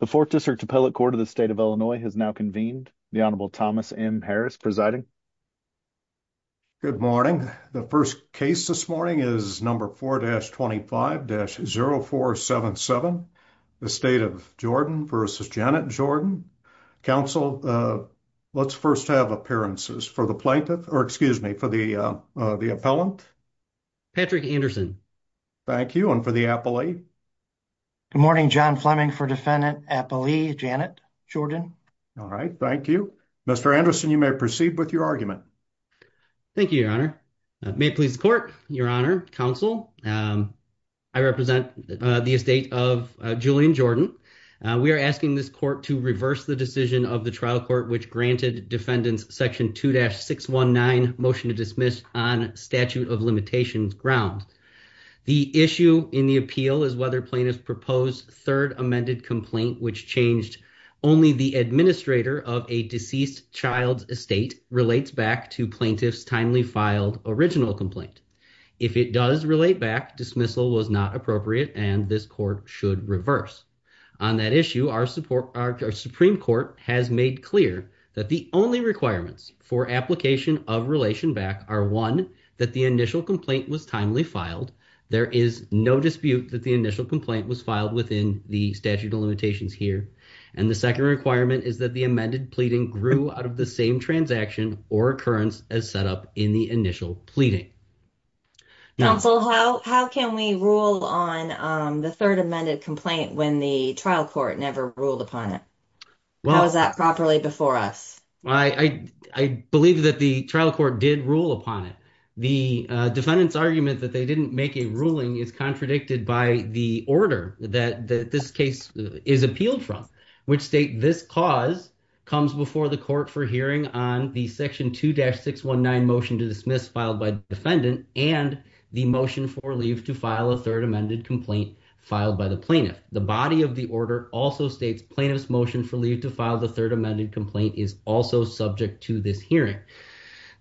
The 4th District Appellate Court of the State of Illinois has now convened. The Honorable Thomas M. Harris presiding. Good morning. The 1st case this morning is number 4-25-0477. The State of Jordan versus Janet Jordan. Council, let's 1st have appearances for the plaintiff or excuse me for the, uh, the appellant. Patrick Anderson. Thank you. And for the appellate. Good morning, John Fleming for defendant appellee Janet Jordan. All right. Thank you. Mr. Anderson. You may proceed with your argument. Thank you, your honor may please court your honor council. I represent the estate of Julian Jordan. We are asking this court to reverse the decision of the trial court, which granted defendants section 2-619 motion to dismiss on statute of limitations ground. The issue in the appeal is whether plaintiff proposed 3rd amended complaint, which changed only the administrator of a deceased child's estate relates back to plaintiff's timely filed original complaint. If it does relate back dismissal was not appropriate and this court should reverse on that issue. Our support, our Supreme Court has made clear that the only requirements for application of relation back are 1 that the initial complaint was timely filed. There is no dispute that the initial complaint was filed within the statute of limitations here and the 2nd requirement is that the amended pleading grew out of the same transaction or occurrence as set up in the initial pleading. Council, how can we rule on the 3rd amended complaint when the trial court never ruled upon it? Well, is that properly before us? I, I believe that the trial court did rule upon it. The defendant's argument that they didn't make a ruling is contradicted by the order that this case is appealed from, which state this cause. Comes before the court for hearing on the section 2-619 motion to dismiss filed by defendant and the motion for leave to file a 3rd amended complaint filed by the plaintiff. The body of the order also states plaintiff's motion for leave to file. The 3rd amended complaint is also subject to this hearing.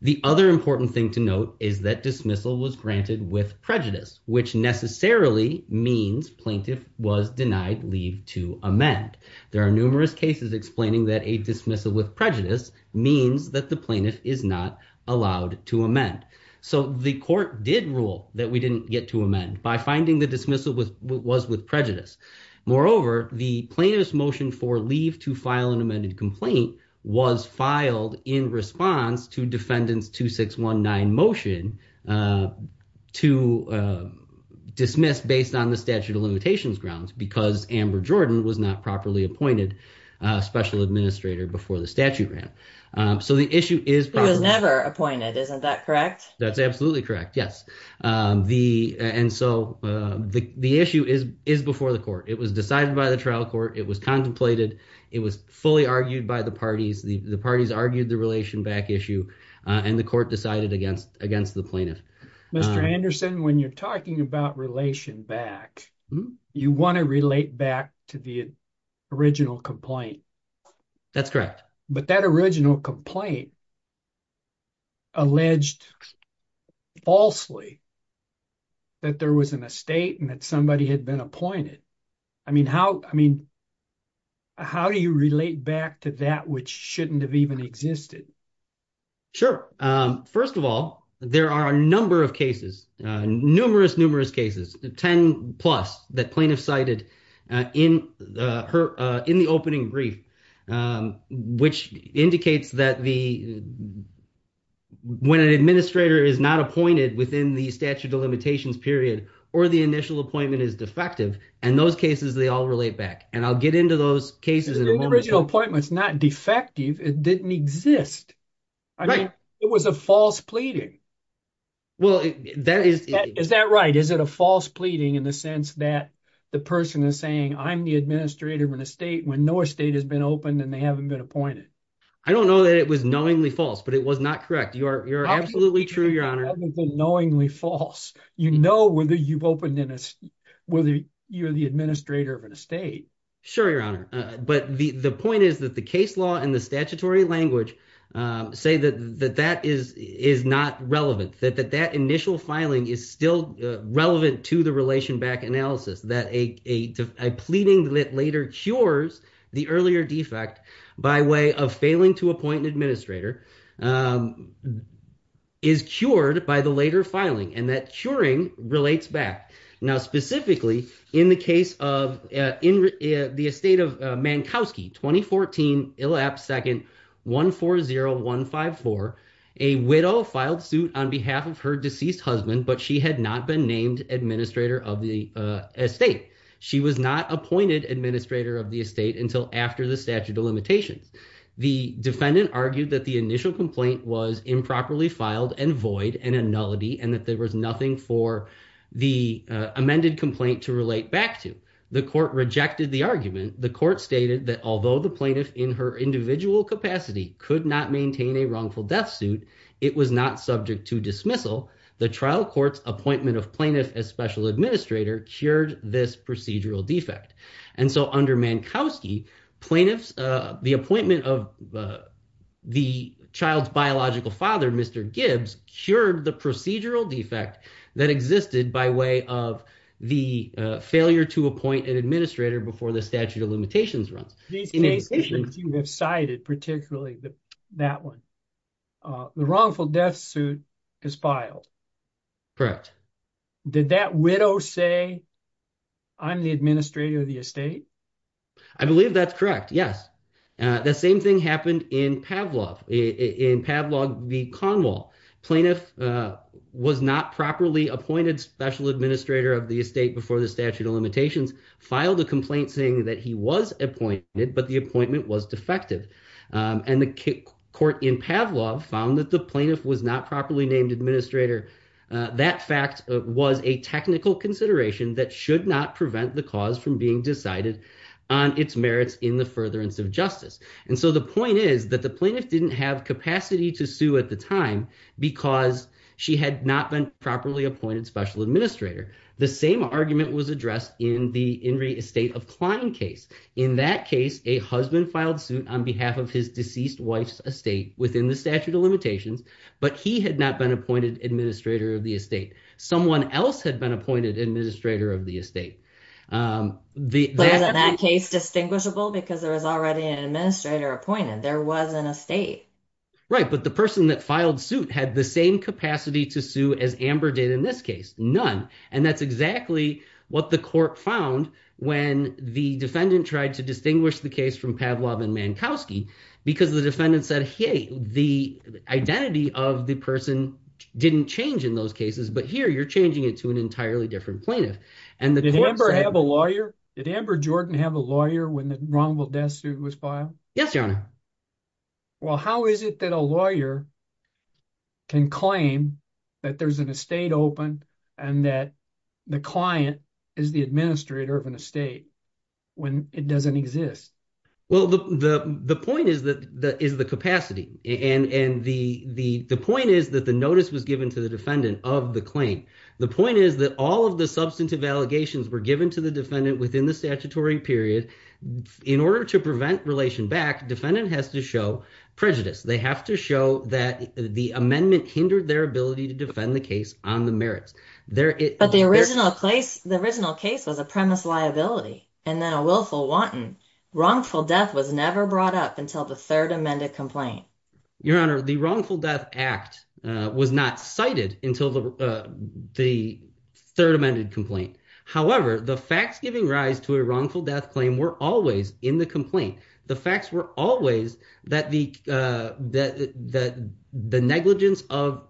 The other important thing to note is that dismissal was granted with prejudice, which necessarily means plaintiff was denied leave to amend. There are numerous cases explaining that a dismissal with prejudice means that the plaintiff is not allowed to amend. So the court did rule that we didn't get to amend by finding the dismissal with what was with prejudice. Moreover, the plaintiff's motion for leave to file an amended complaint was filed in response to defendant's 2-619 motion to dismiss based on the statute of limitations grounds. Because Amber Jordan was not properly appointed special administrator before the statute ran. So the issue is never appointed. Isn't that correct? That's absolutely correct. Yes. The and so the issue is is before the court. It was decided by the trial court. It was contemplated. It was fully argued by the parties. The parties argued the relation back issue and the court decided against against the plaintiff. Mr. Anderson, when you're talking about relation back, you want to relate back to the original complaint. That's correct. But that original complaint. Alleged falsely that there was an estate and that somebody had been appointed. I mean, how I mean. How do you relate back to that, which shouldn't have even existed? Sure, 1st of all, there are a number of cases, numerous, numerous cases, 10 plus that plaintiff cited in her in the opening brief, which indicates that the. When an administrator is not appointed within the statute of limitations period, or the initial appointment is defective and those cases, they all relate back and I'll get into those cases and original appointments, not defective. It didn't exist. It was a false pleading. Well, that is, is that right? Is it a false pleading in the sense that the person is saying, I'm the administrator of an estate when no estate has been opened and they haven't been appointed. I don't know that it was knowingly false, but it was not correct. You are. You're absolutely true. Your honor knowingly false, you know, whether you've opened in whether you're the administrator of an estate. Sure, your honor. But the point is that the case law and the statutory language say that that that is is not relevant that that that initial filing is still relevant to the relation back analysis that a pleading that later cures the earlier defect. By way of failing to appoint an administrator. Is cured by the later filing and that Turing relates back now specifically in the case of in the estate of Mankowski 2014 elapsed 2nd 140154 a widow filed suit on behalf of her deceased husband, but she had not been named administrator of the. Estate she was not appointed administrator of the estate until after the statute of limitations. The defendant argued that the initial complaint was improperly filed and void and a nullity and that there was nothing for. The amended complaint to relate back to the court rejected the argument, the court stated that, although the plaintiff in her individual capacity could not maintain a wrongful death suit. It was not subject to dismissal the trial courts appointment of plaintiff as special administrator cured this procedural defect and so under Mankowski plaintiffs the appointment of. The child's biological father, Mr gibbs cured the procedural defect that existed by way of the failure to appoint an administrator before the statute of limitations runs. You have cited particularly that 1. The wrongful death suit is filed. Correct did that widow say. I'm the administrator of the estate. I believe that's correct. Yes, the same thing happened in Pavlov in Pavlov the Conwell plaintiff was not properly appointed special administrator of the estate before the statute of limitations filed a complaint saying that he was a point. But the appointment was defective and the court in Pavlov found that the plaintiff was not properly named administrator. That fact was a technical consideration that should not prevent the cause from being decided on its merits in the furtherance of justice, and so the point is that the plaintiff didn't have capacity to sue at the time because she had not been properly appointed special administrator. The same argument was addressed in the state of client case. In that case, a husband filed suit on behalf of his deceased wife's estate within the statute of limitations, but he had not been appointed administrator of the estate. Someone else had been appointed administrator of the estate. The case distinguishable because there was already an administrator appointed. There wasn't a state. Right, but the person that filed suit had the same capacity to sue as Amber did in this case. None, and that's exactly what the court found when the defendant tried to distinguish the case from Pavlov and Mankowski because the defendant said, hey, the identity of the person didn't change in those cases. But here you're changing it to an entirely different plaintiff and the member have a lawyer. Did Amber Jordan have a lawyer when the wrongful death suit was filed? Yes, your honor. Well, how is it that a lawyer? Can claim that there's an estate open and that the client is the administrator of an estate when it doesn't exist? Well, the point is that that is the capacity and the point is that the notice was given to the defendant of the claim. The point is that all of the substantive allegations were given to the defendant within the statutory period. In order to prevent relation back, defendant has to show prejudice. They have to show that the amendment hindered their ability to defend the case on the merits there. But the original case was a premise liability and then a willful wanton wrongful death was never brought up until the third amended complaint. Your honor, the wrongful death act was not cited until the third amended complaint. However, the facts giving rise to a wrongful death claim were always in the complaint. The facts were always that the negligence of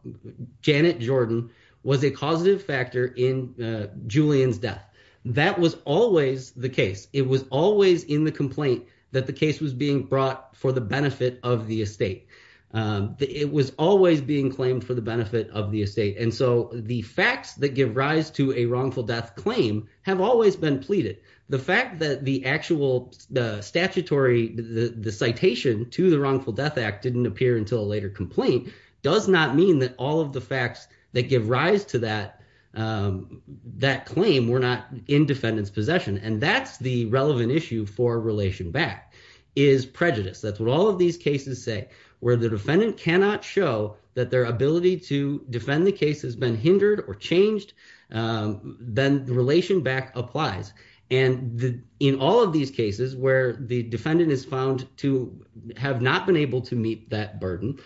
Janet Jordan was a causative factor in Julian's death. That was always the case. It was always in the complaint that the case was being brought for the benefit of the estate. It was always being claimed for the benefit of the estate. And so the facts that give rise to a wrongful death claim have always been pleaded. The fact that the actual statutory, the citation to the wrongful death act didn't appear until a later complaint. Does not mean that all of the facts that give rise to that claim were not in defendant's possession. And that's the relevant issue for relation back is prejudice. That's what all of these cases say where the defendant cannot show that their ability to defend the case has been hindered or changed. Then the relation back applies. And in all of these cases where the defendant is found to have not been able to meet that burden.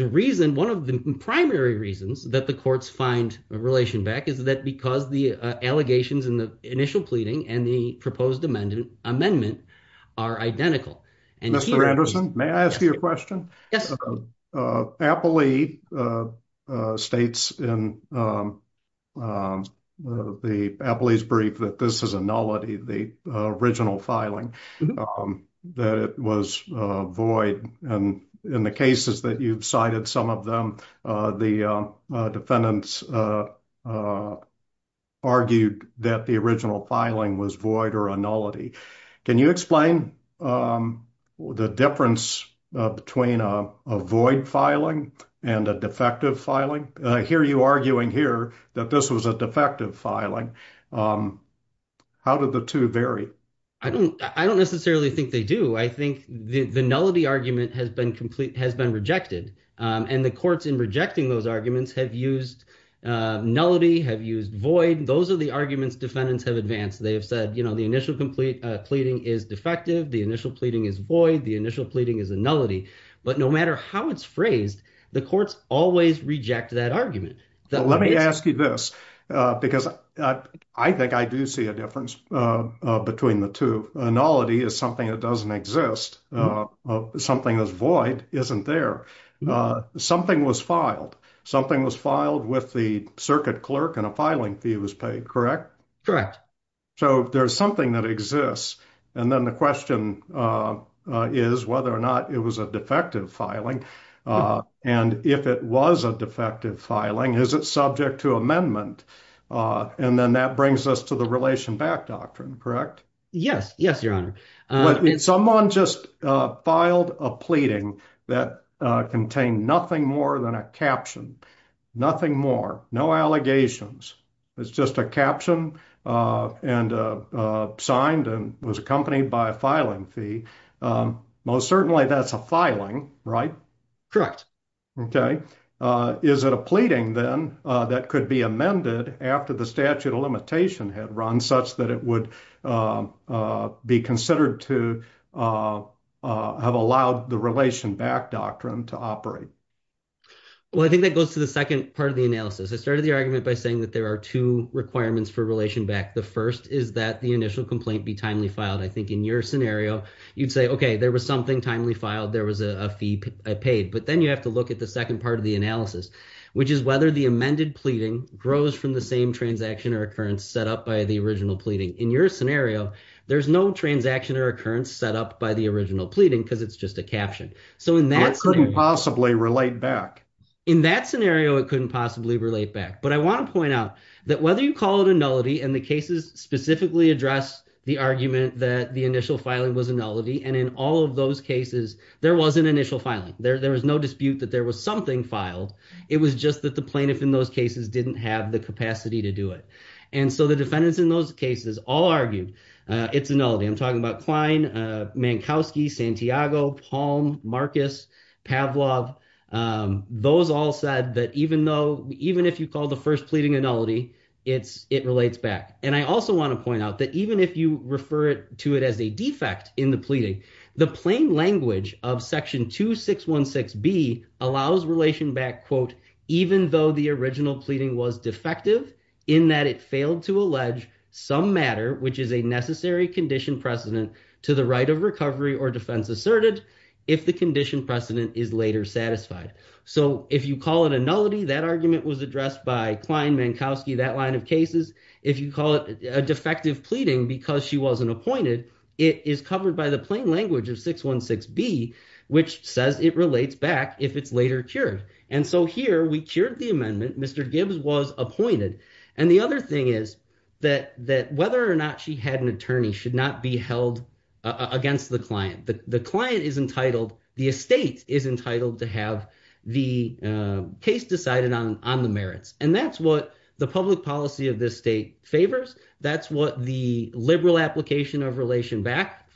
The reason, one of the primary reasons that the courts find a relation back is that because the allegations in the initial pleading and the proposed amendment are identical. Mr. Anderson, may I ask you a question? Yes. Appley states in the brief that this is a nullity, the original filing that it was void. And in the cases that you've cited, some of them, the defendants argued that the original filing was void or a nullity. Can you explain the difference between a void filing and a defective filing? I hear you arguing here that this was a defective filing. How did the two vary? I don't necessarily think they do. I think the nullity argument has been rejected. And the courts in rejecting those arguments have used nullity, have used void. Those are the arguments defendants have advanced. They have said, you know, the initial complete pleading is defective. The initial pleading is void. The initial pleading is a nullity. But no matter how it's phrased, the courts always reject that argument. Let me ask you this, because I think I do see a difference between the two. A nullity is something that doesn't exist. Something that's void isn't there. Something was filed. Something was filed with the circuit clerk and a filing fee was paid, correct? Correct. So there's something that exists. And then the question is whether or not it was a defective filing. And if it was a defective filing, is it subject to amendment? And then that brings us to the relation back doctrine, correct? Yes. Yes, Your Honor. Someone just filed a pleading that contained nothing more than a caption. Nothing more. No allegations. It's just a caption and signed and was accompanied by a filing fee. Most certainly that's a filing, right? Is it a pleading then that could be amended after the statute of limitation had run such that it would be considered to have allowed the relation back doctrine to operate? Well, I think that goes to the second part of the analysis. I started the argument by saying that there are two requirements for relation back. The first is that the initial complaint be timely filed. I think in your scenario, you'd say, okay, there was something timely filed. There was a fee I paid. But then you have to look at the second part of the analysis, which is whether the amended pleading grows from the same transaction or occurrence set up by the original pleading. In your scenario, there's no transaction or occurrence set up by the original pleading because it's just a caption. So in that... It couldn't possibly relate back. In that scenario, it couldn't possibly relate back. But I want to point out that whether you call it a nullity and the cases specifically address the argument that the initial filing was a nullity. And in all of those cases, there was an initial filing. There was no dispute that there was something filed. It was just that the plaintiff in those cases didn't have the capacity to do it. And so the defendants in those cases all argued it's a nullity. I'm talking about Klein, Mankowski, Santiago, Palm, Marcus, Pavlov. Those all said that even if you call the first pleading a nullity, it relates back. And I also want to point out that even if you refer to it as a defect in the pleading, the plain language of section 2616B allows relation back, quote, even though the original pleading was defective in that it failed to allege some matter, which is a necessary condition precedent to the right of recovery or defense asserted if the condition precedent is later satisfied. So if you call it a nullity, that argument was addressed by Klein, Mankowski, that line of cases. If you call it a defective pleading because she wasn't appointed, it is covered by the plain language of 616B, which says it relates back if it's later cured. And so here we cured the amendment. Mr. Gibbs was appointed. And the other thing is that whether or not she had an attorney should not be held against the client. The client is entitled, the estate is entitled to have the case decided on the merits. And that's what the public policy of this state favors. That's what the liberal application of relation back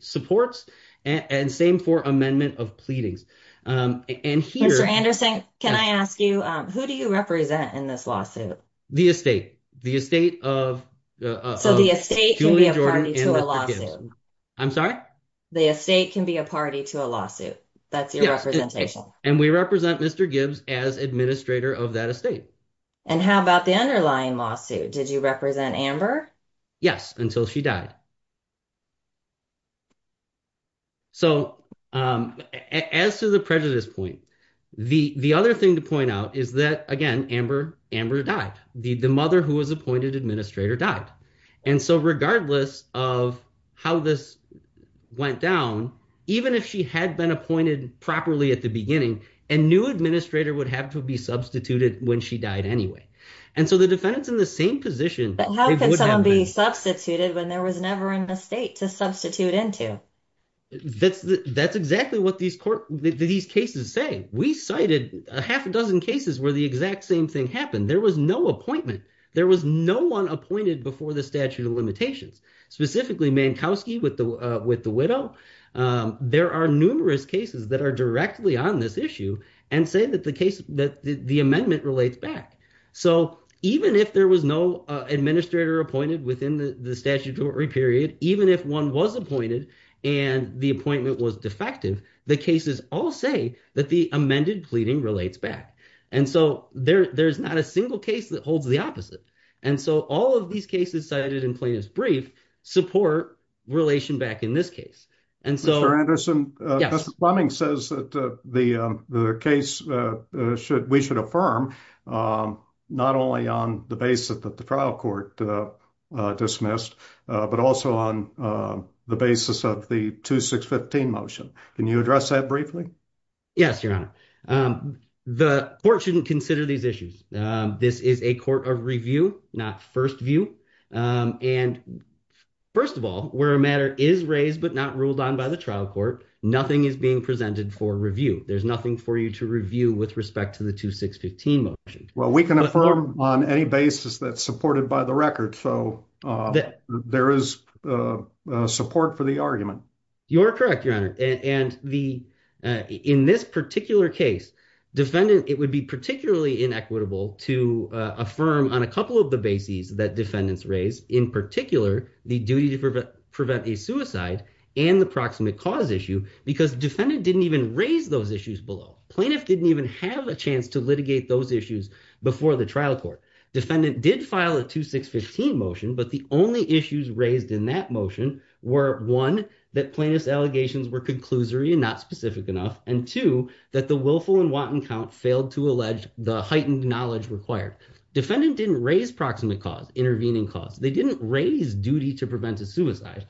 supports. And same for amendment of pleadings. And here. Mr. Anderson, can I ask you, who do you represent in this lawsuit? The estate. The estate of. So the estate can be a party to a lawsuit. I'm sorry? The estate can be a party to a lawsuit. That's your representation. And we represent Mr. Gibbs as administrator of that estate. And how about the underlying lawsuit? Did you represent Amber? Yes, until she died. So, as to the prejudice point, the other thing to point out is that, again, Amber died. The mother who was appointed administrator died. And so regardless of how this went down, even if she had been appointed properly at the beginning, a new administrator would have to be substituted when she died anyway. And so the defendants in the same position. How can someone be substituted when there was never an estate to substitute into? That's exactly what these court, these cases say. We cited a half a dozen cases where the exact same thing happened. There was no appointment. There was no one appointed before the statute of limitations, specifically Mankowski with the widow. There are numerous cases that are directly on this issue and say that the case, that the amendment relates back. So even if there was no administrator appointed within the statutory period, even if one was appointed and the appointment was defective, the cases all say that the amended pleading relates back. And so there's not a single case that holds the opposite. And so all of these cases cited in plaintiff's brief support relation back in this case. Mr. Anderson, Mr. Fleming says that the case we should affirm not only on the basis that the trial court dismissed, but also on the basis of the 2615 motion. Can you address that briefly? Yes, your honor. The court shouldn't consider these issues. This is a court of review, not first view. And first of all, where a matter is raised, but not ruled on by the trial court, nothing is being presented for review. There's nothing for you to review with respect to the 2615 motion. Well, we can affirm on any basis that's supported by the record. So there is support for the argument. You're correct, your honor. And in this particular case, it would be particularly inequitable to affirm on a couple of the bases that defendants raised in particular, the duty to prevent a suicide and the proximate cause issue, because defendant didn't even raise those issues below. Plaintiff didn't even have a chance to litigate those issues before the trial court. Defendant did file a 2615 motion, but the only issues raised in that motion were one, that plaintiff's allegations were conclusory and not specific enough. And two, that the willful and wanton count failed to allege the heightened knowledge required. Defendant didn't raise proximate cause, intervening cause. They didn't raise duty to prevent a suicide.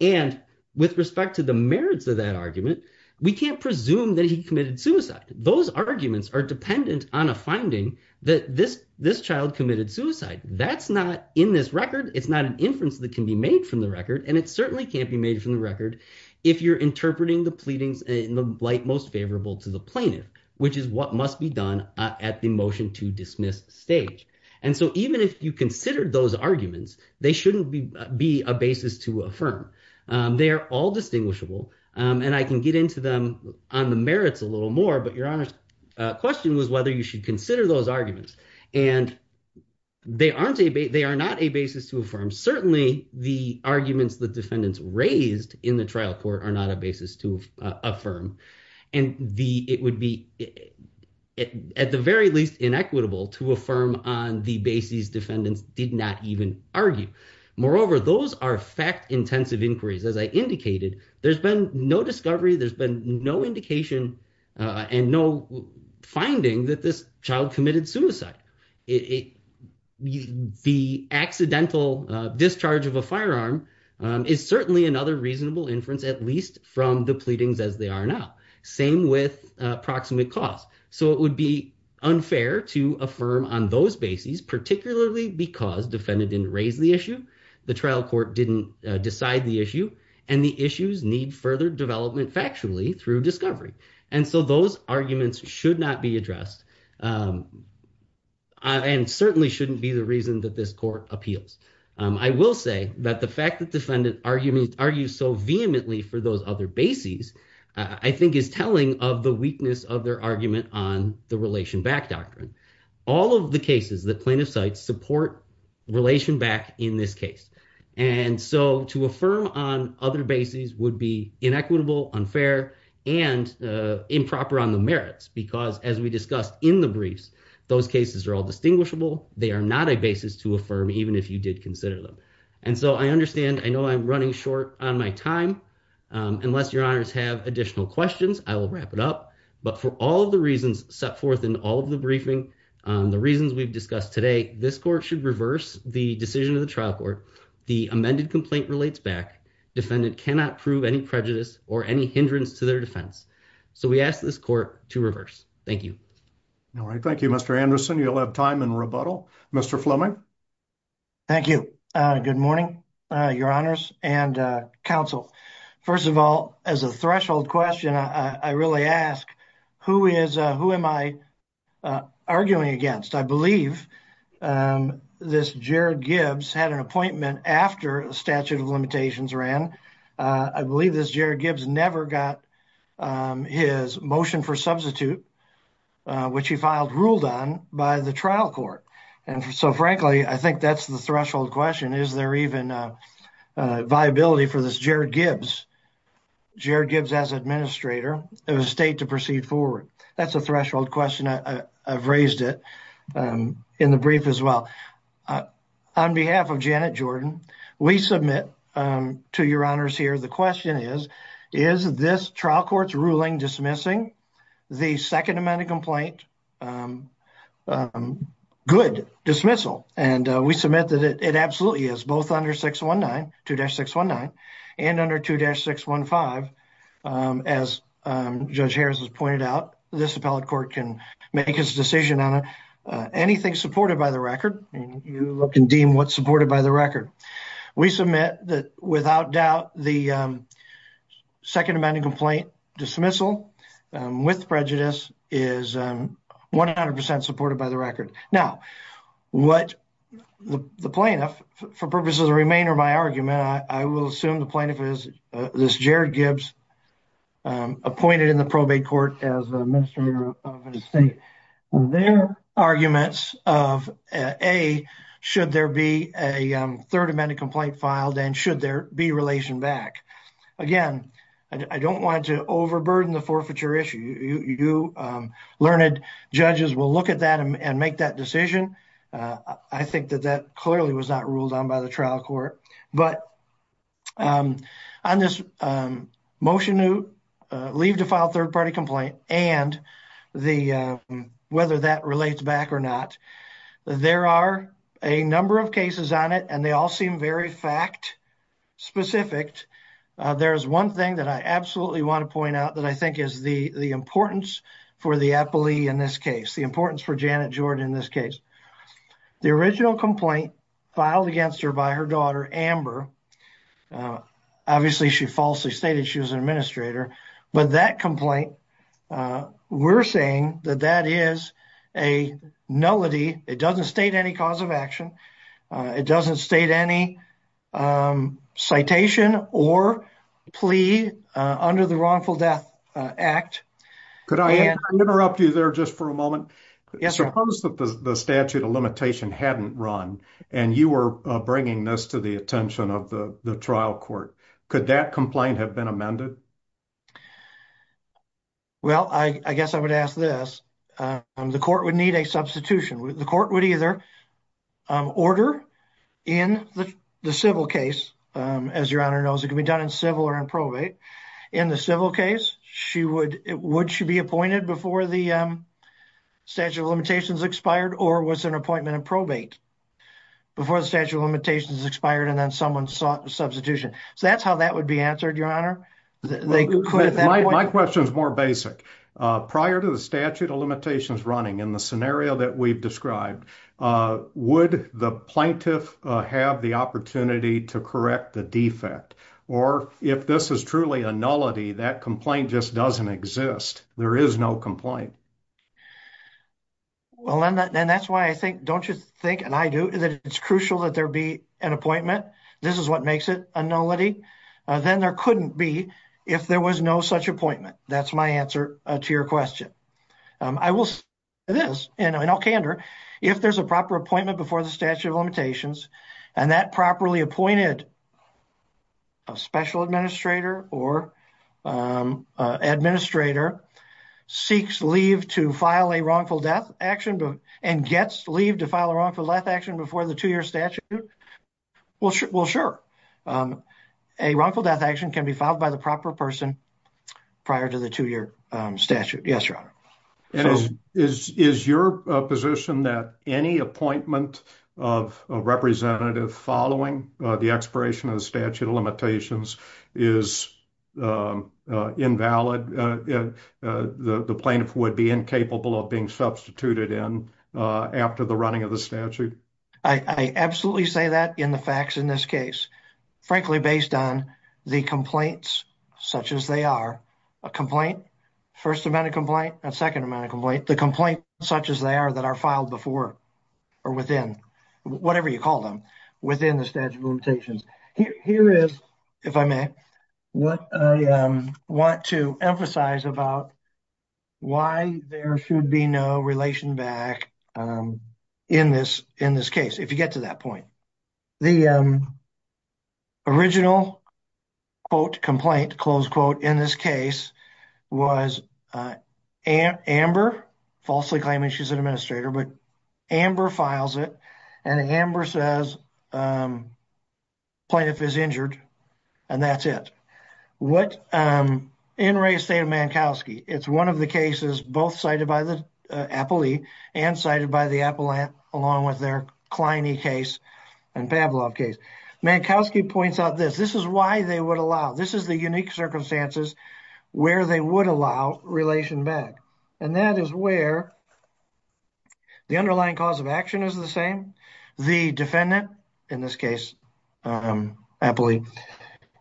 And with respect to the merits of that argument, we can't presume that he committed suicide. Those arguments are dependent on a finding that this child committed suicide. That's not in this record. It's not an inference that can be made from the record. And it certainly can't be made from the record if you're interpreting the pleadings in the light most favorable to the plaintiff, which is what must be done at the motion to dismiss stage. And so even if you consider those arguments, they shouldn't be a basis to affirm. They are all distinguishable. And I can get into them on the merits a little more, but your honest question was whether you should consider those arguments. And they are not a basis to affirm. Certainly the arguments that defendants raised in the trial court are not a basis to affirm. And it would be, at the very least, inequitable to affirm on the basis defendants did not even argue. Moreover, those are fact-intensive inquiries. As I indicated, there's been no discovery, there's been no indication and no finding that this child committed suicide. The accidental discharge of a firearm is certainly another reasonable inference, at least from the pleadings as they are now. Same with proximate cause. So it would be unfair to affirm on those bases, particularly because defendant didn't raise the issue, the trial court didn't decide the issue, and the issues need further development factually through discovery. And so those arguments should not be addressed and certainly shouldn't be the reason that this court appeals. I will say that the fact that defendant argued so vehemently for those other bases, I think is telling of the weakness of their argument on the relation back doctrine. All of the cases that plaintiffs cite support relation back in this case. And so to affirm on other bases would be inequitable, unfair, and improper on the merits. Because as we discussed in the briefs, those cases are all distinguishable. They are not a basis to affirm even if you did consider them. And so I understand, I know I'm running short on my time. Unless your honors have additional questions, I will wrap it up. But for all of the reasons set forth in all of the briefing, the reasons we've discussed today, this court should reverse the decision of the trial court. The amended complaint relates back. Defendant cannot prove any prejudice or any hindrance to their defense. So we ask this court to reverse. Thank you. All right. Thank you, Mr. Anderson. You'll have time in rebuttal. Mr. Fleming. Thank you. Good morning, your honors and counsel. First of all, as a threshold question, I really ask, who am I arguing against? I believe this Jared Gibbs had an appointment after the statute of limitations ran. I believe this Jared Gibbs never got his motion for substitute, which he filed ruled on by the trial court. And so frankly, I think that's the threshold question. Is there even a viability for this Jared Gibbs? Jared Gibbs as administrator of a state to proceed forward. That's a threshold question. I've raised it in the brief as well. On behalf of Janet Jordan, we submit to your honors here. The question is, is this trial court's ruling dismissing the second amendment complaint? Good dismissal. And we submit that it absolutely is both under 619, 2-619 and under 2-615. As Judge Harris has pointed out, this appellate court can make his decision on anything supported by the record. And you look and deem what's supported by the record. We submit that without doubt, the second amendment complaint dismissal. With prejudice is 100% supported by the record. Now, what the plaintiff, for purposes of remainder of my argument, I will assume the plaintiff is this Jared Gibbs appointed in the probate court as an administrator of a state. Their arguments of A, should there be a third amendment complaint filed and should there be relation back. Again, I don't want to overburden the forfeiture issue. Learned judges will look at that and make that decision. I think that that clearly was not ruled on by the trial court. But on this motion to leave to file third party complaint and whether that relates back or not, there are a number of cases on it and they all seem very fact specific. There's one thing that I absolutely want to point out that I think is the importance for the appellee in this case, the importance for Janet Jordan in this case. The original complaint filed against her by her daughter, Amber. Obviously, she falsely stated she was an administrator. But that complaint, we're saying that that is a nullity. It doesn't state any cause of action. It doesn't state any citation or plea under the Wrongful Death Act. Could I interrupt you there just for a moment? Suppose that the statute of limitation hadn't run and you were bringing this to the attention of the trial court. Could that complaint have been amended? Well, I guess I would ask this. The court would need a substitution. The court would either order in the civil case, as your honor knows, it can be done in civil or in probate. In the civil case, would she be appointed before the statute of limitations expired or was an appointment in probate before the statute of limitations expired and then someone sought substitution? So that's how that would be answered, your honor. My question is more basic. Prior to the statute of limitations running in the scenario that we've described, would the plaintiff have the opportunity to correct the defect? Or if this is truly a nullity, that complaint just doesn't exist. There is no complaint. Well, and that's why I think, don't you think, and I do, that it's crucial that there be an appointment. This is what makes it a nullity. Then there couldn't be if there was no such appointment. That's my answer to your question. I will say this, and I'll candor. If there's a proper appointment before the statute of limitations and that properly appointed special administrator or administrator seeks leave to file a wrongful death action and gets leave to file a wrongful death action before the two-year statute, well, sure. A wrongful death action can be filed by the proper person prior to the two-year statute. Yes, your honor. Is your position that any appointment of a representative following the expiration of the statute of limitations is invalid? The plaintiff would be incapable of being substituted in after the running of the statute? I absolutely say that in the facts in this case. Frankly, based on the complaints such as they are, a complaint, first amount of complaint, a second amount of complaint, the complaint such as they are that are filed before or within, whatever you call them, within the statute of limitations. Here is, if I may, what I want to emphasize about why there should be no relation back in this case, if you get to that point. The original, quote, complaint, close quote, in this case was Amber, falsely claiming she's an administrator, but Amber files it and Amber says plaintiff is injured and that's it. What, in Ray's state of Mankowski, it's one of the cases both cited by the Appellee and cited by the Appellant along with their Kleine case and Pavlov case. Mankowski points out this, this is why they would allow, this is the unique circumstances where they would allow relation back. And that is where the underlying cause of action is the same. The defendant, in this case, Appellee,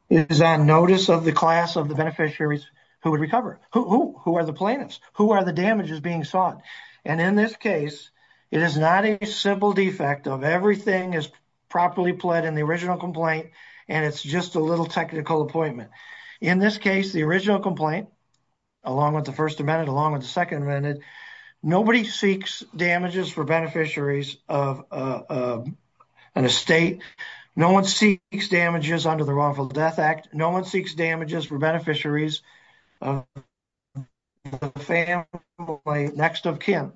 is on notice of the class of the beneficiaries who would recover, who are the plaintiffs, who are the damages being sought. And in this case, it is not a simple defect of everything is properly pled in the original complaint and it's just a little technical appointment. In this case, the original complaint, along with the first amendment, along with the second amendment, nobody seeks damages for beneficiaries of an estate. No one seeks damages under the Wrongful Death Act. No one seeks damages for beneficiaries of the family next of kin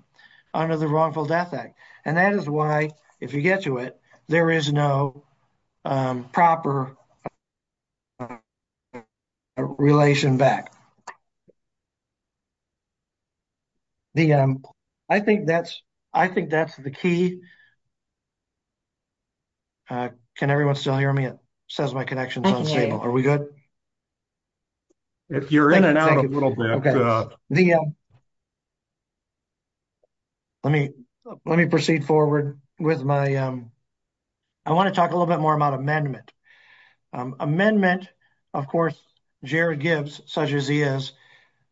under the Wrongful Death Act. And that is why, if you get to it, there is no proper relation back. The, I think that's, I think that's the key. Can everyone still hear me? It says my connection is unstable. Are we good? If you're in and out a little bit. Let me, let me proceed forward with my, I want to talk a little bit more about amendment. Amendment, of course, Jared Gibbs, such as he is,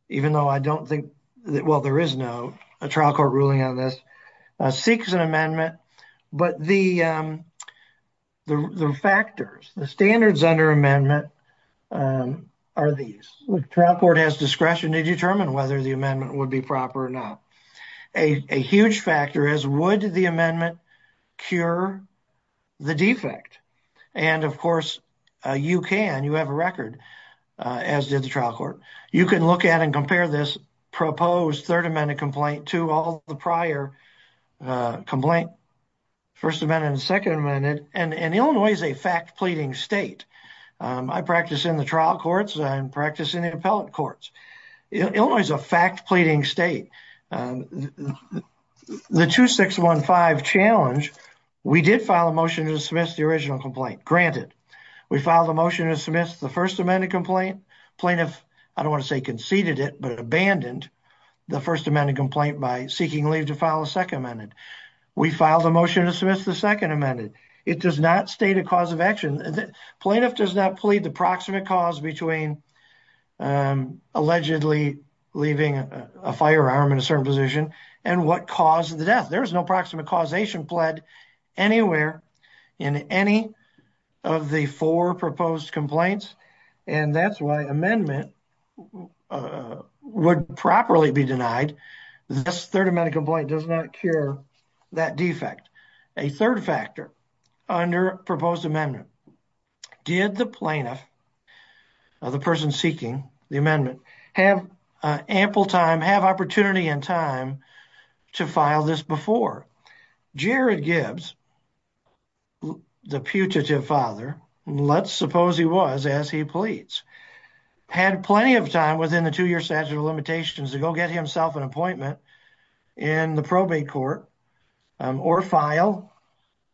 even though I don't think that, well, there is no trial court ruling on this, seeks an amendment, but the factors, the standards under amendment are these. Trial court has discretion to determine whether the amendment would be proper or not. A huge factor is would the amendment cure the defect? And of course, you can, you have a record, as did the trial court. You can look at and compare this proposed third amendment complaint to all the prior complaint, first amendment and second amendment, and Illinois is a fact pleading state. I practice in the trial courts and practice in the appellate courts. Illinois is a fact pleading state. The 2615 challenge, we did file a motion to dismiss the original complaint, granted. We filed a motion to dismiss the first amendment complaint. Plaintiff, I don't want to say conceded it, but abandoned the first amendment complaint by seeking leave to file a second amendment. We filed a motion to dismiss the second amendment. It does not state a cause of action. Plaintiff does not plead the proximate cause between allegedly leaving a firearm in a certain position and what caused the death. There's no proximate causation pled anywhere in any of the four proposed complaints. And that's why amendment would properly be denied. This third amendment complaint does not cure that defect. A third factor under proposed amendment, did the plaintiff, the person seeking the amendment, have ample time, have opportunity and time to file this before? Jared Gibbs, the putative father, let's suppose he was as he pleads, had plenty of time within the two-year statute of limitations to go get himself an appointment in the probate court or file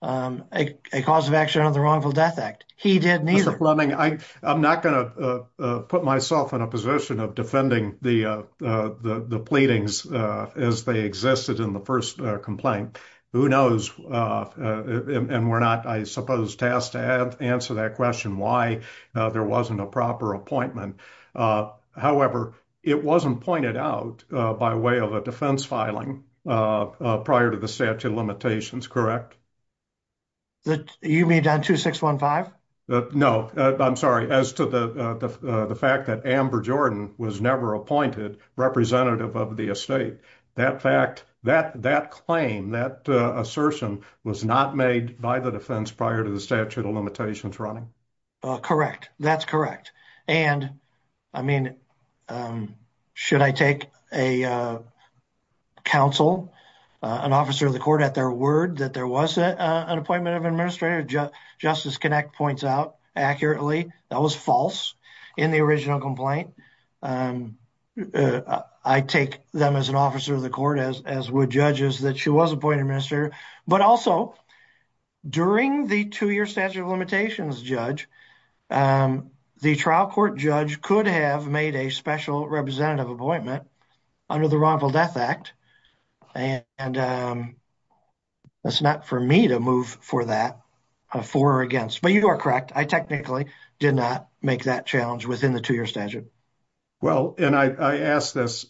a cause of action on the wrongful death act. He did neither. I'm not going to put myself in a position of defending the pleadings as they existed in the first complaint. Who knows? And we're not, I suppose, tasked to answer that question why there wasn't a proper appointment. However, it wasn't pointed out by way of a defense filing prior to the statute of limitations, correct? You mean on 2615? No, I'm sorry. As to the fact that Amber Jordan was never appointed representative of the estate, that fact, that claim, that assertion, was not made by the defense prior to the statute of limitations running? Correct. That's correct. And, I mean, should I take a counsel, an officer of the court at their word that there wasn't an appointment of an administrator, Justice Kinect points out accurately. That was false in the original complaint. I take them as an officer of the court, as would judges, that she was appointed minister. But also, during the two-year statute of limitations, Judge, the trial court judge could have made a special representative appointment under the wrongful death act. And that's not for me to move for that, for or against. But you are correct. I technically did not make that challenge within the two-year statute. Well, and I ask this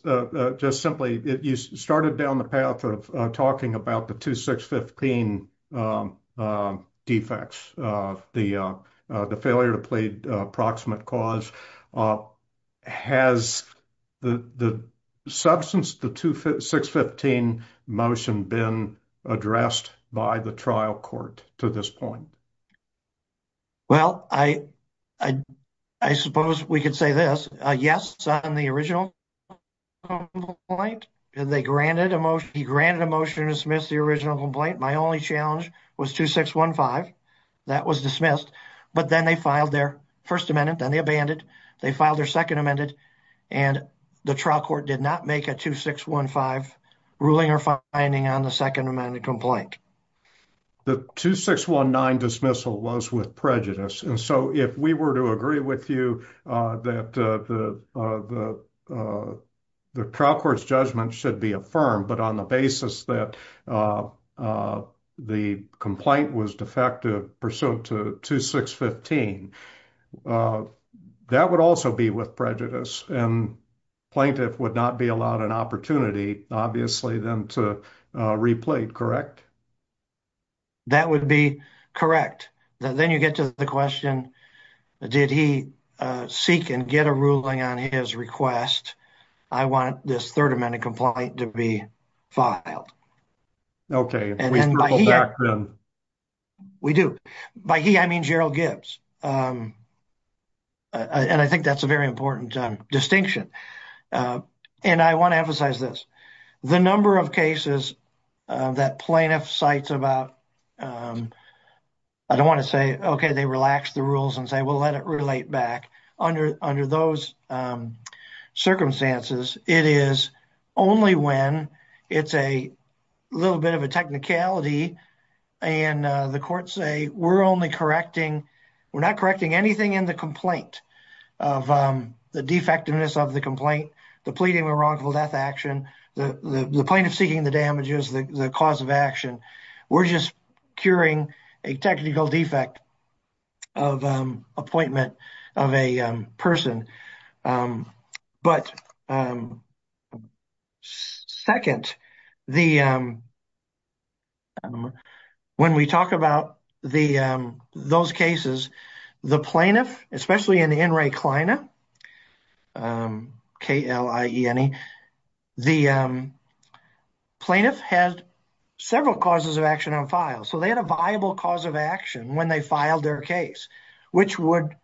just simply. You started down the path of talking about the 2615 defects, the failure to plead approximate cause. Has the substance, the 2615 motion been addressed by the trial court to this point? Well, I suppose we could say this. Yes, on the original complaint, they granted a motion. He granted a motion to dismiss the original complaint. My only challenge was 2615. That was dismissed. But then they filed their First Amendment. Then they abandoned. They filed their Second Amendment. And the trial court did not make a 2615 ruling or finding on the Second Amendment complaint. The 2619 dismissal was with prejudice. And so if we were to agree with you that the trial court's judgment should be affirmed, but on the basis that the complaint was defective pursuant to 2615, that would also be with prejudice. And plaintiff would not be allowed an opportunity, obviously, then to replay, correct? That would be correct. Then you get to the question, did he seek and get a ruling on his request? I want this Third Amendment complaint to be filed. We do. By he, I mean, Gerald Gibbs. And I think that's a very important distinction. And I want to emphasize this. The number of cases that plaintiff cites about, I don't want to say, okay, they relax the rules and say, we'll let it relate back. Under those circumstances, it is only when it's a little bit of a technicality. And the courts say, we're only correcting, we're not correcting anything in the complaint of the defectiveness of the complaint, the pleading and wrongful death action, the plaintiff seeking the damages, the cause of action. We're just curing a technical defect of appointment of a person. But second, the, when we talk about the, those cases, the plaintiff, several causes of action on file. So they had a viable cause of action when they filed their case, which would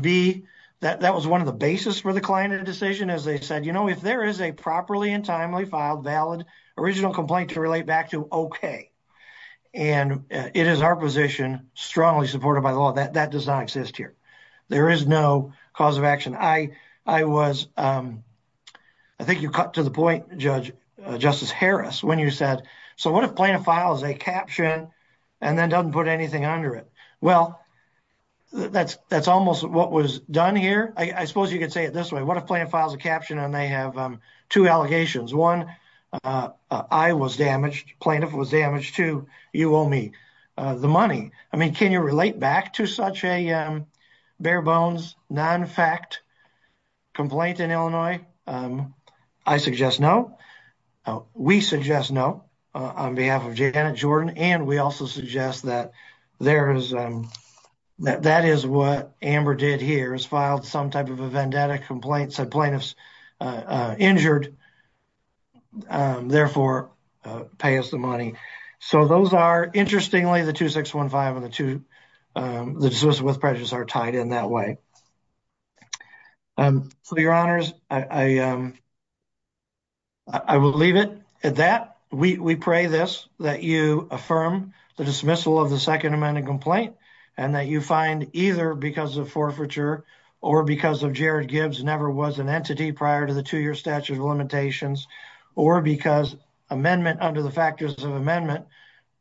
be that that was one of the basis for the client of the decision as they said, you know, if there is a properly and timely filed valid original complaint to relate back to, okay. And it is our position strongly supported by law that that does not exist here. There is no cause of action. I was, I think you cut to the point, Judge Justice Harris, when you said, so what if plaintiff files a caption and then doesn't put anything under it? Well, that's almost what was done here. I suppose you could say it this way. What if plaintiff files a caption and they have two allegations? One, I was damaged, plaintiff was damaged too, you owe me the money. I mean, can you relate back to such a bare bones, non-fact complaint in Illinois? I suggest no. We suggest no on behalf of Janet Jordan. And we also suggest that there is, that is what Amber did here, is filed some type of a vendetta complaint, said plaintiff's injured, therefore pay us the money. So those are, interestingly, the 2615 and the two, the dismissal with prejudice are tied in that way. So your honors, I will leave it at that. We pray this, that you affirm the dismissal of the second amendment complaint and that you find either because of forfeiture or because of Jared Gibbs never was an entity prior to the two-year statute of limitations or because amendment under the factors of amendment,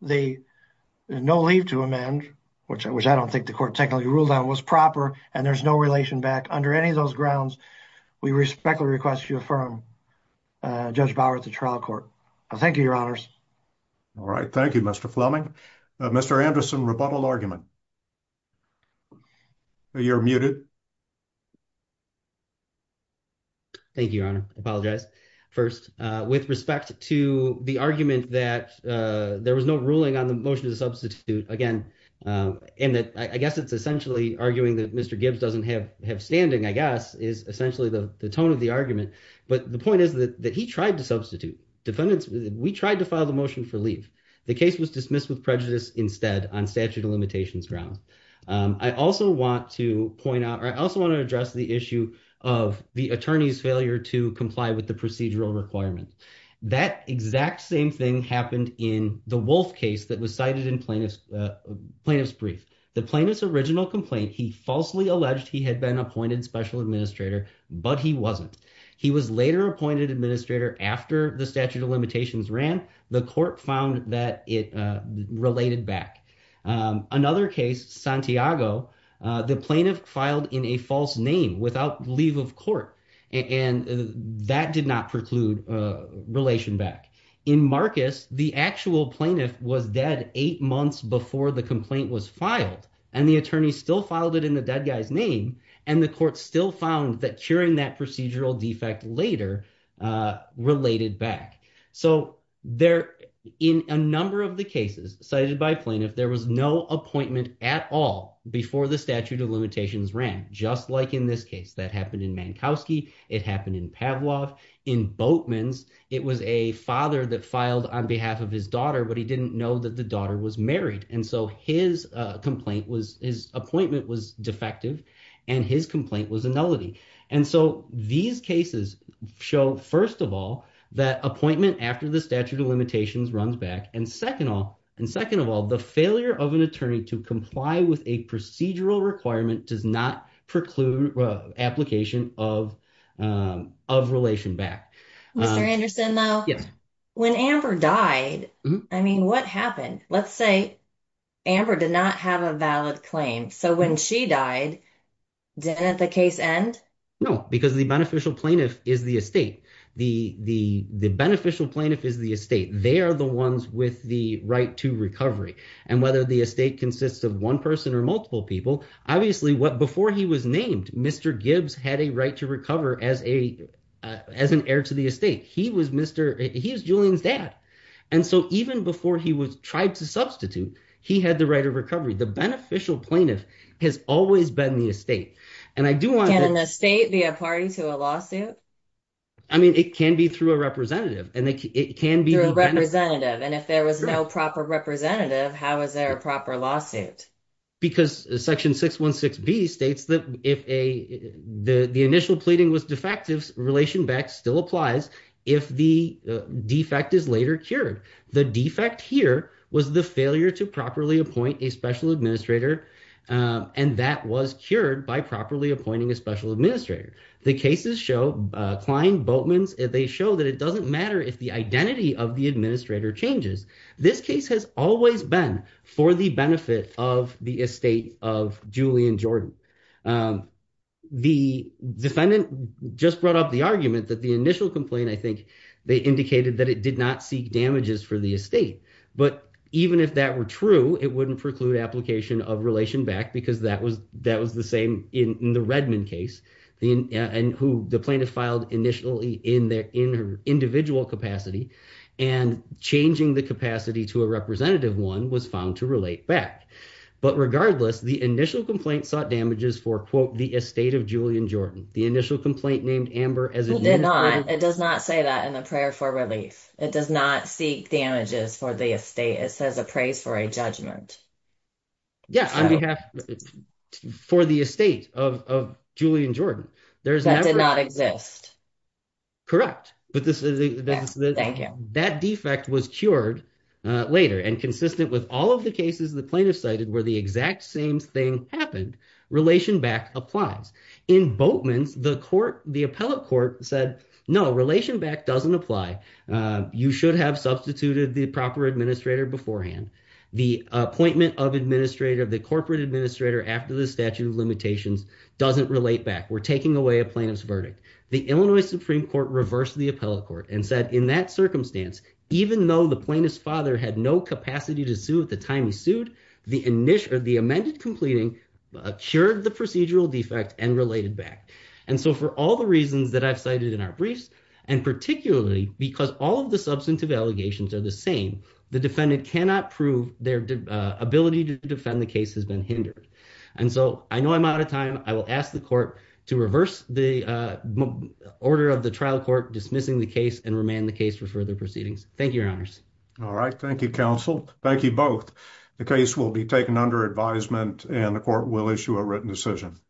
the no leave to amend, which I don't think the court technically ruled on was proper, and there's no relation back under any of those grounds. We respectfully request you affirm Judge Bauer at the trial court. Thank you, your honors. All right. Thank you, Mr. Fleming. Mr. Anderson, rebuttal argument. You're muted. Thank you, your honor. I apologize. First, with respect to the argument that there was no ruling on the motion to substitute, again, and that I guess it's essentially arguing that Mr. Gibbs doesn't have standing, I guess, is essentially the tone of the argument. But the point is that he tried to substitute. Defendants, we tried to file the motion for leave. The case was dismissed with prejudice instead on statute of limitations grounds. I also want to point out, or I also want to address the issue of the attorney's failure to comply with the procedural requirements. That exact same thing happened in the Wolf case that was cited in plaintiff's brief. The plaintiff's original complaint, he falsely alleged he had been appointed special administrator, but he wasn't. He was later appointed administrator after the statute of limitations ran. The court found that it related back. Another case, Santiago, the plaintiff filed in a false name without leave of court, and that did not preclude relation back. In Marcus, the actual plaintiff was dead eight months before the complaint was filed, and the attorney still filed it in the dead guy's name, and the court still found that curing that procedural defect later related back. So in a number of the cases cited by plaintiff, there was no appointment at all before the statute of limitations ran, just like in this case that happened in Mankowski. It happened in Pavlov. In Boatman's, it was a father that filed on behalf of his daughter, but he didn't know that the daughter was married, and so his appointment was defective, and his complaint was a nullity. And so these cases show, first of all, that appointment after the statute of limitations runs back, and second of all, the failure of an attorney to comply with a procedural requirement does not preclude application of relation back. Mr. Anderson, though, when Amber died, I mean, what happened? Let's say Amber did not have a valid claim, so when she died, didn't the case end? No, because the beneficial plaintiff is the estate. The beneficial plaintiff is the estate. They are the ones with the right to recovery, and whether the estate consists of one person or multiple people, obviously, before he was named, Mr. Gibbs had a right to recover as an heir to the estate. He was Julian's dad, and so even before he was tried to substitute, he had the right of recovery. The beneficial plaintiff has always been the estate, and I do want to- Can an estate be a party to a lawsuit? I mean, it can be through a representative, and it can be- Through a representative, and if there was no proper representative, how is there a proper lawsuit? Because section 616B states that if the initial pleading was defective, relation back still applies if the defect is later cured. The defect here was the failure to properly appoint a special administrator, and that was cured by properly appointing a special administrator. The cases show, Klein, Boatmans, they show that it doesn't matter if the identity of the administrator changes. This case has always been for the benefit of the estate of Julian Jordan. The defendant just brought up the argument that the initial complaint, they indicated that it did not seek damages for the estate, but even if that were true, it wouldn't preclude application of relation back because that was the same in the Redmond case, and who the plaintiff filed initially in her individual capacity, and changing the capacity to a representative one was found to relate back. But regardless, the initial complaint sought damages for, quote, the estate of Julian Jordan. The initial complaint named Amber as- It does not say that in the prayer for relief. It does not seek damages for the estate. It says appraise for a judgment. Yeah, on behalf for the estate of Julian Jordan. There's- That did not exist. Correct, but that defect was cured later, and consistent with all of the cases the plaintiff cited where the exact same thing happened, relation back applies. In Boatman's, the court, the appellate court said, no, relation back doesn't apply. You should have substituted the proper administrator beforehand. The appointment of administrator, the corporate administrator after the statute of limitations doesn't relate back. We're taking away a plaintiff's verdict. The Illinois Supreme Court reversed the appellate court and said, in that circumstance, even though the plaintiff's father had no capacity to sue at the time he sued, the amended completing cured the procedural defect and related back. And so for all the reasons that I've cited in our briefs, and particularly because all of the substantive allegations are the same, the defendant cannot prove their ability to defend the case has been hindered. And so I know I'm out of time. I will ask the court to reverse the order of the trial court, dismissing the case and remand the case for further proceedings. Thank you, your honors. All right. Thank you, counsel. Thank you both. The case will be taken under advisement and the court will issue a written decision.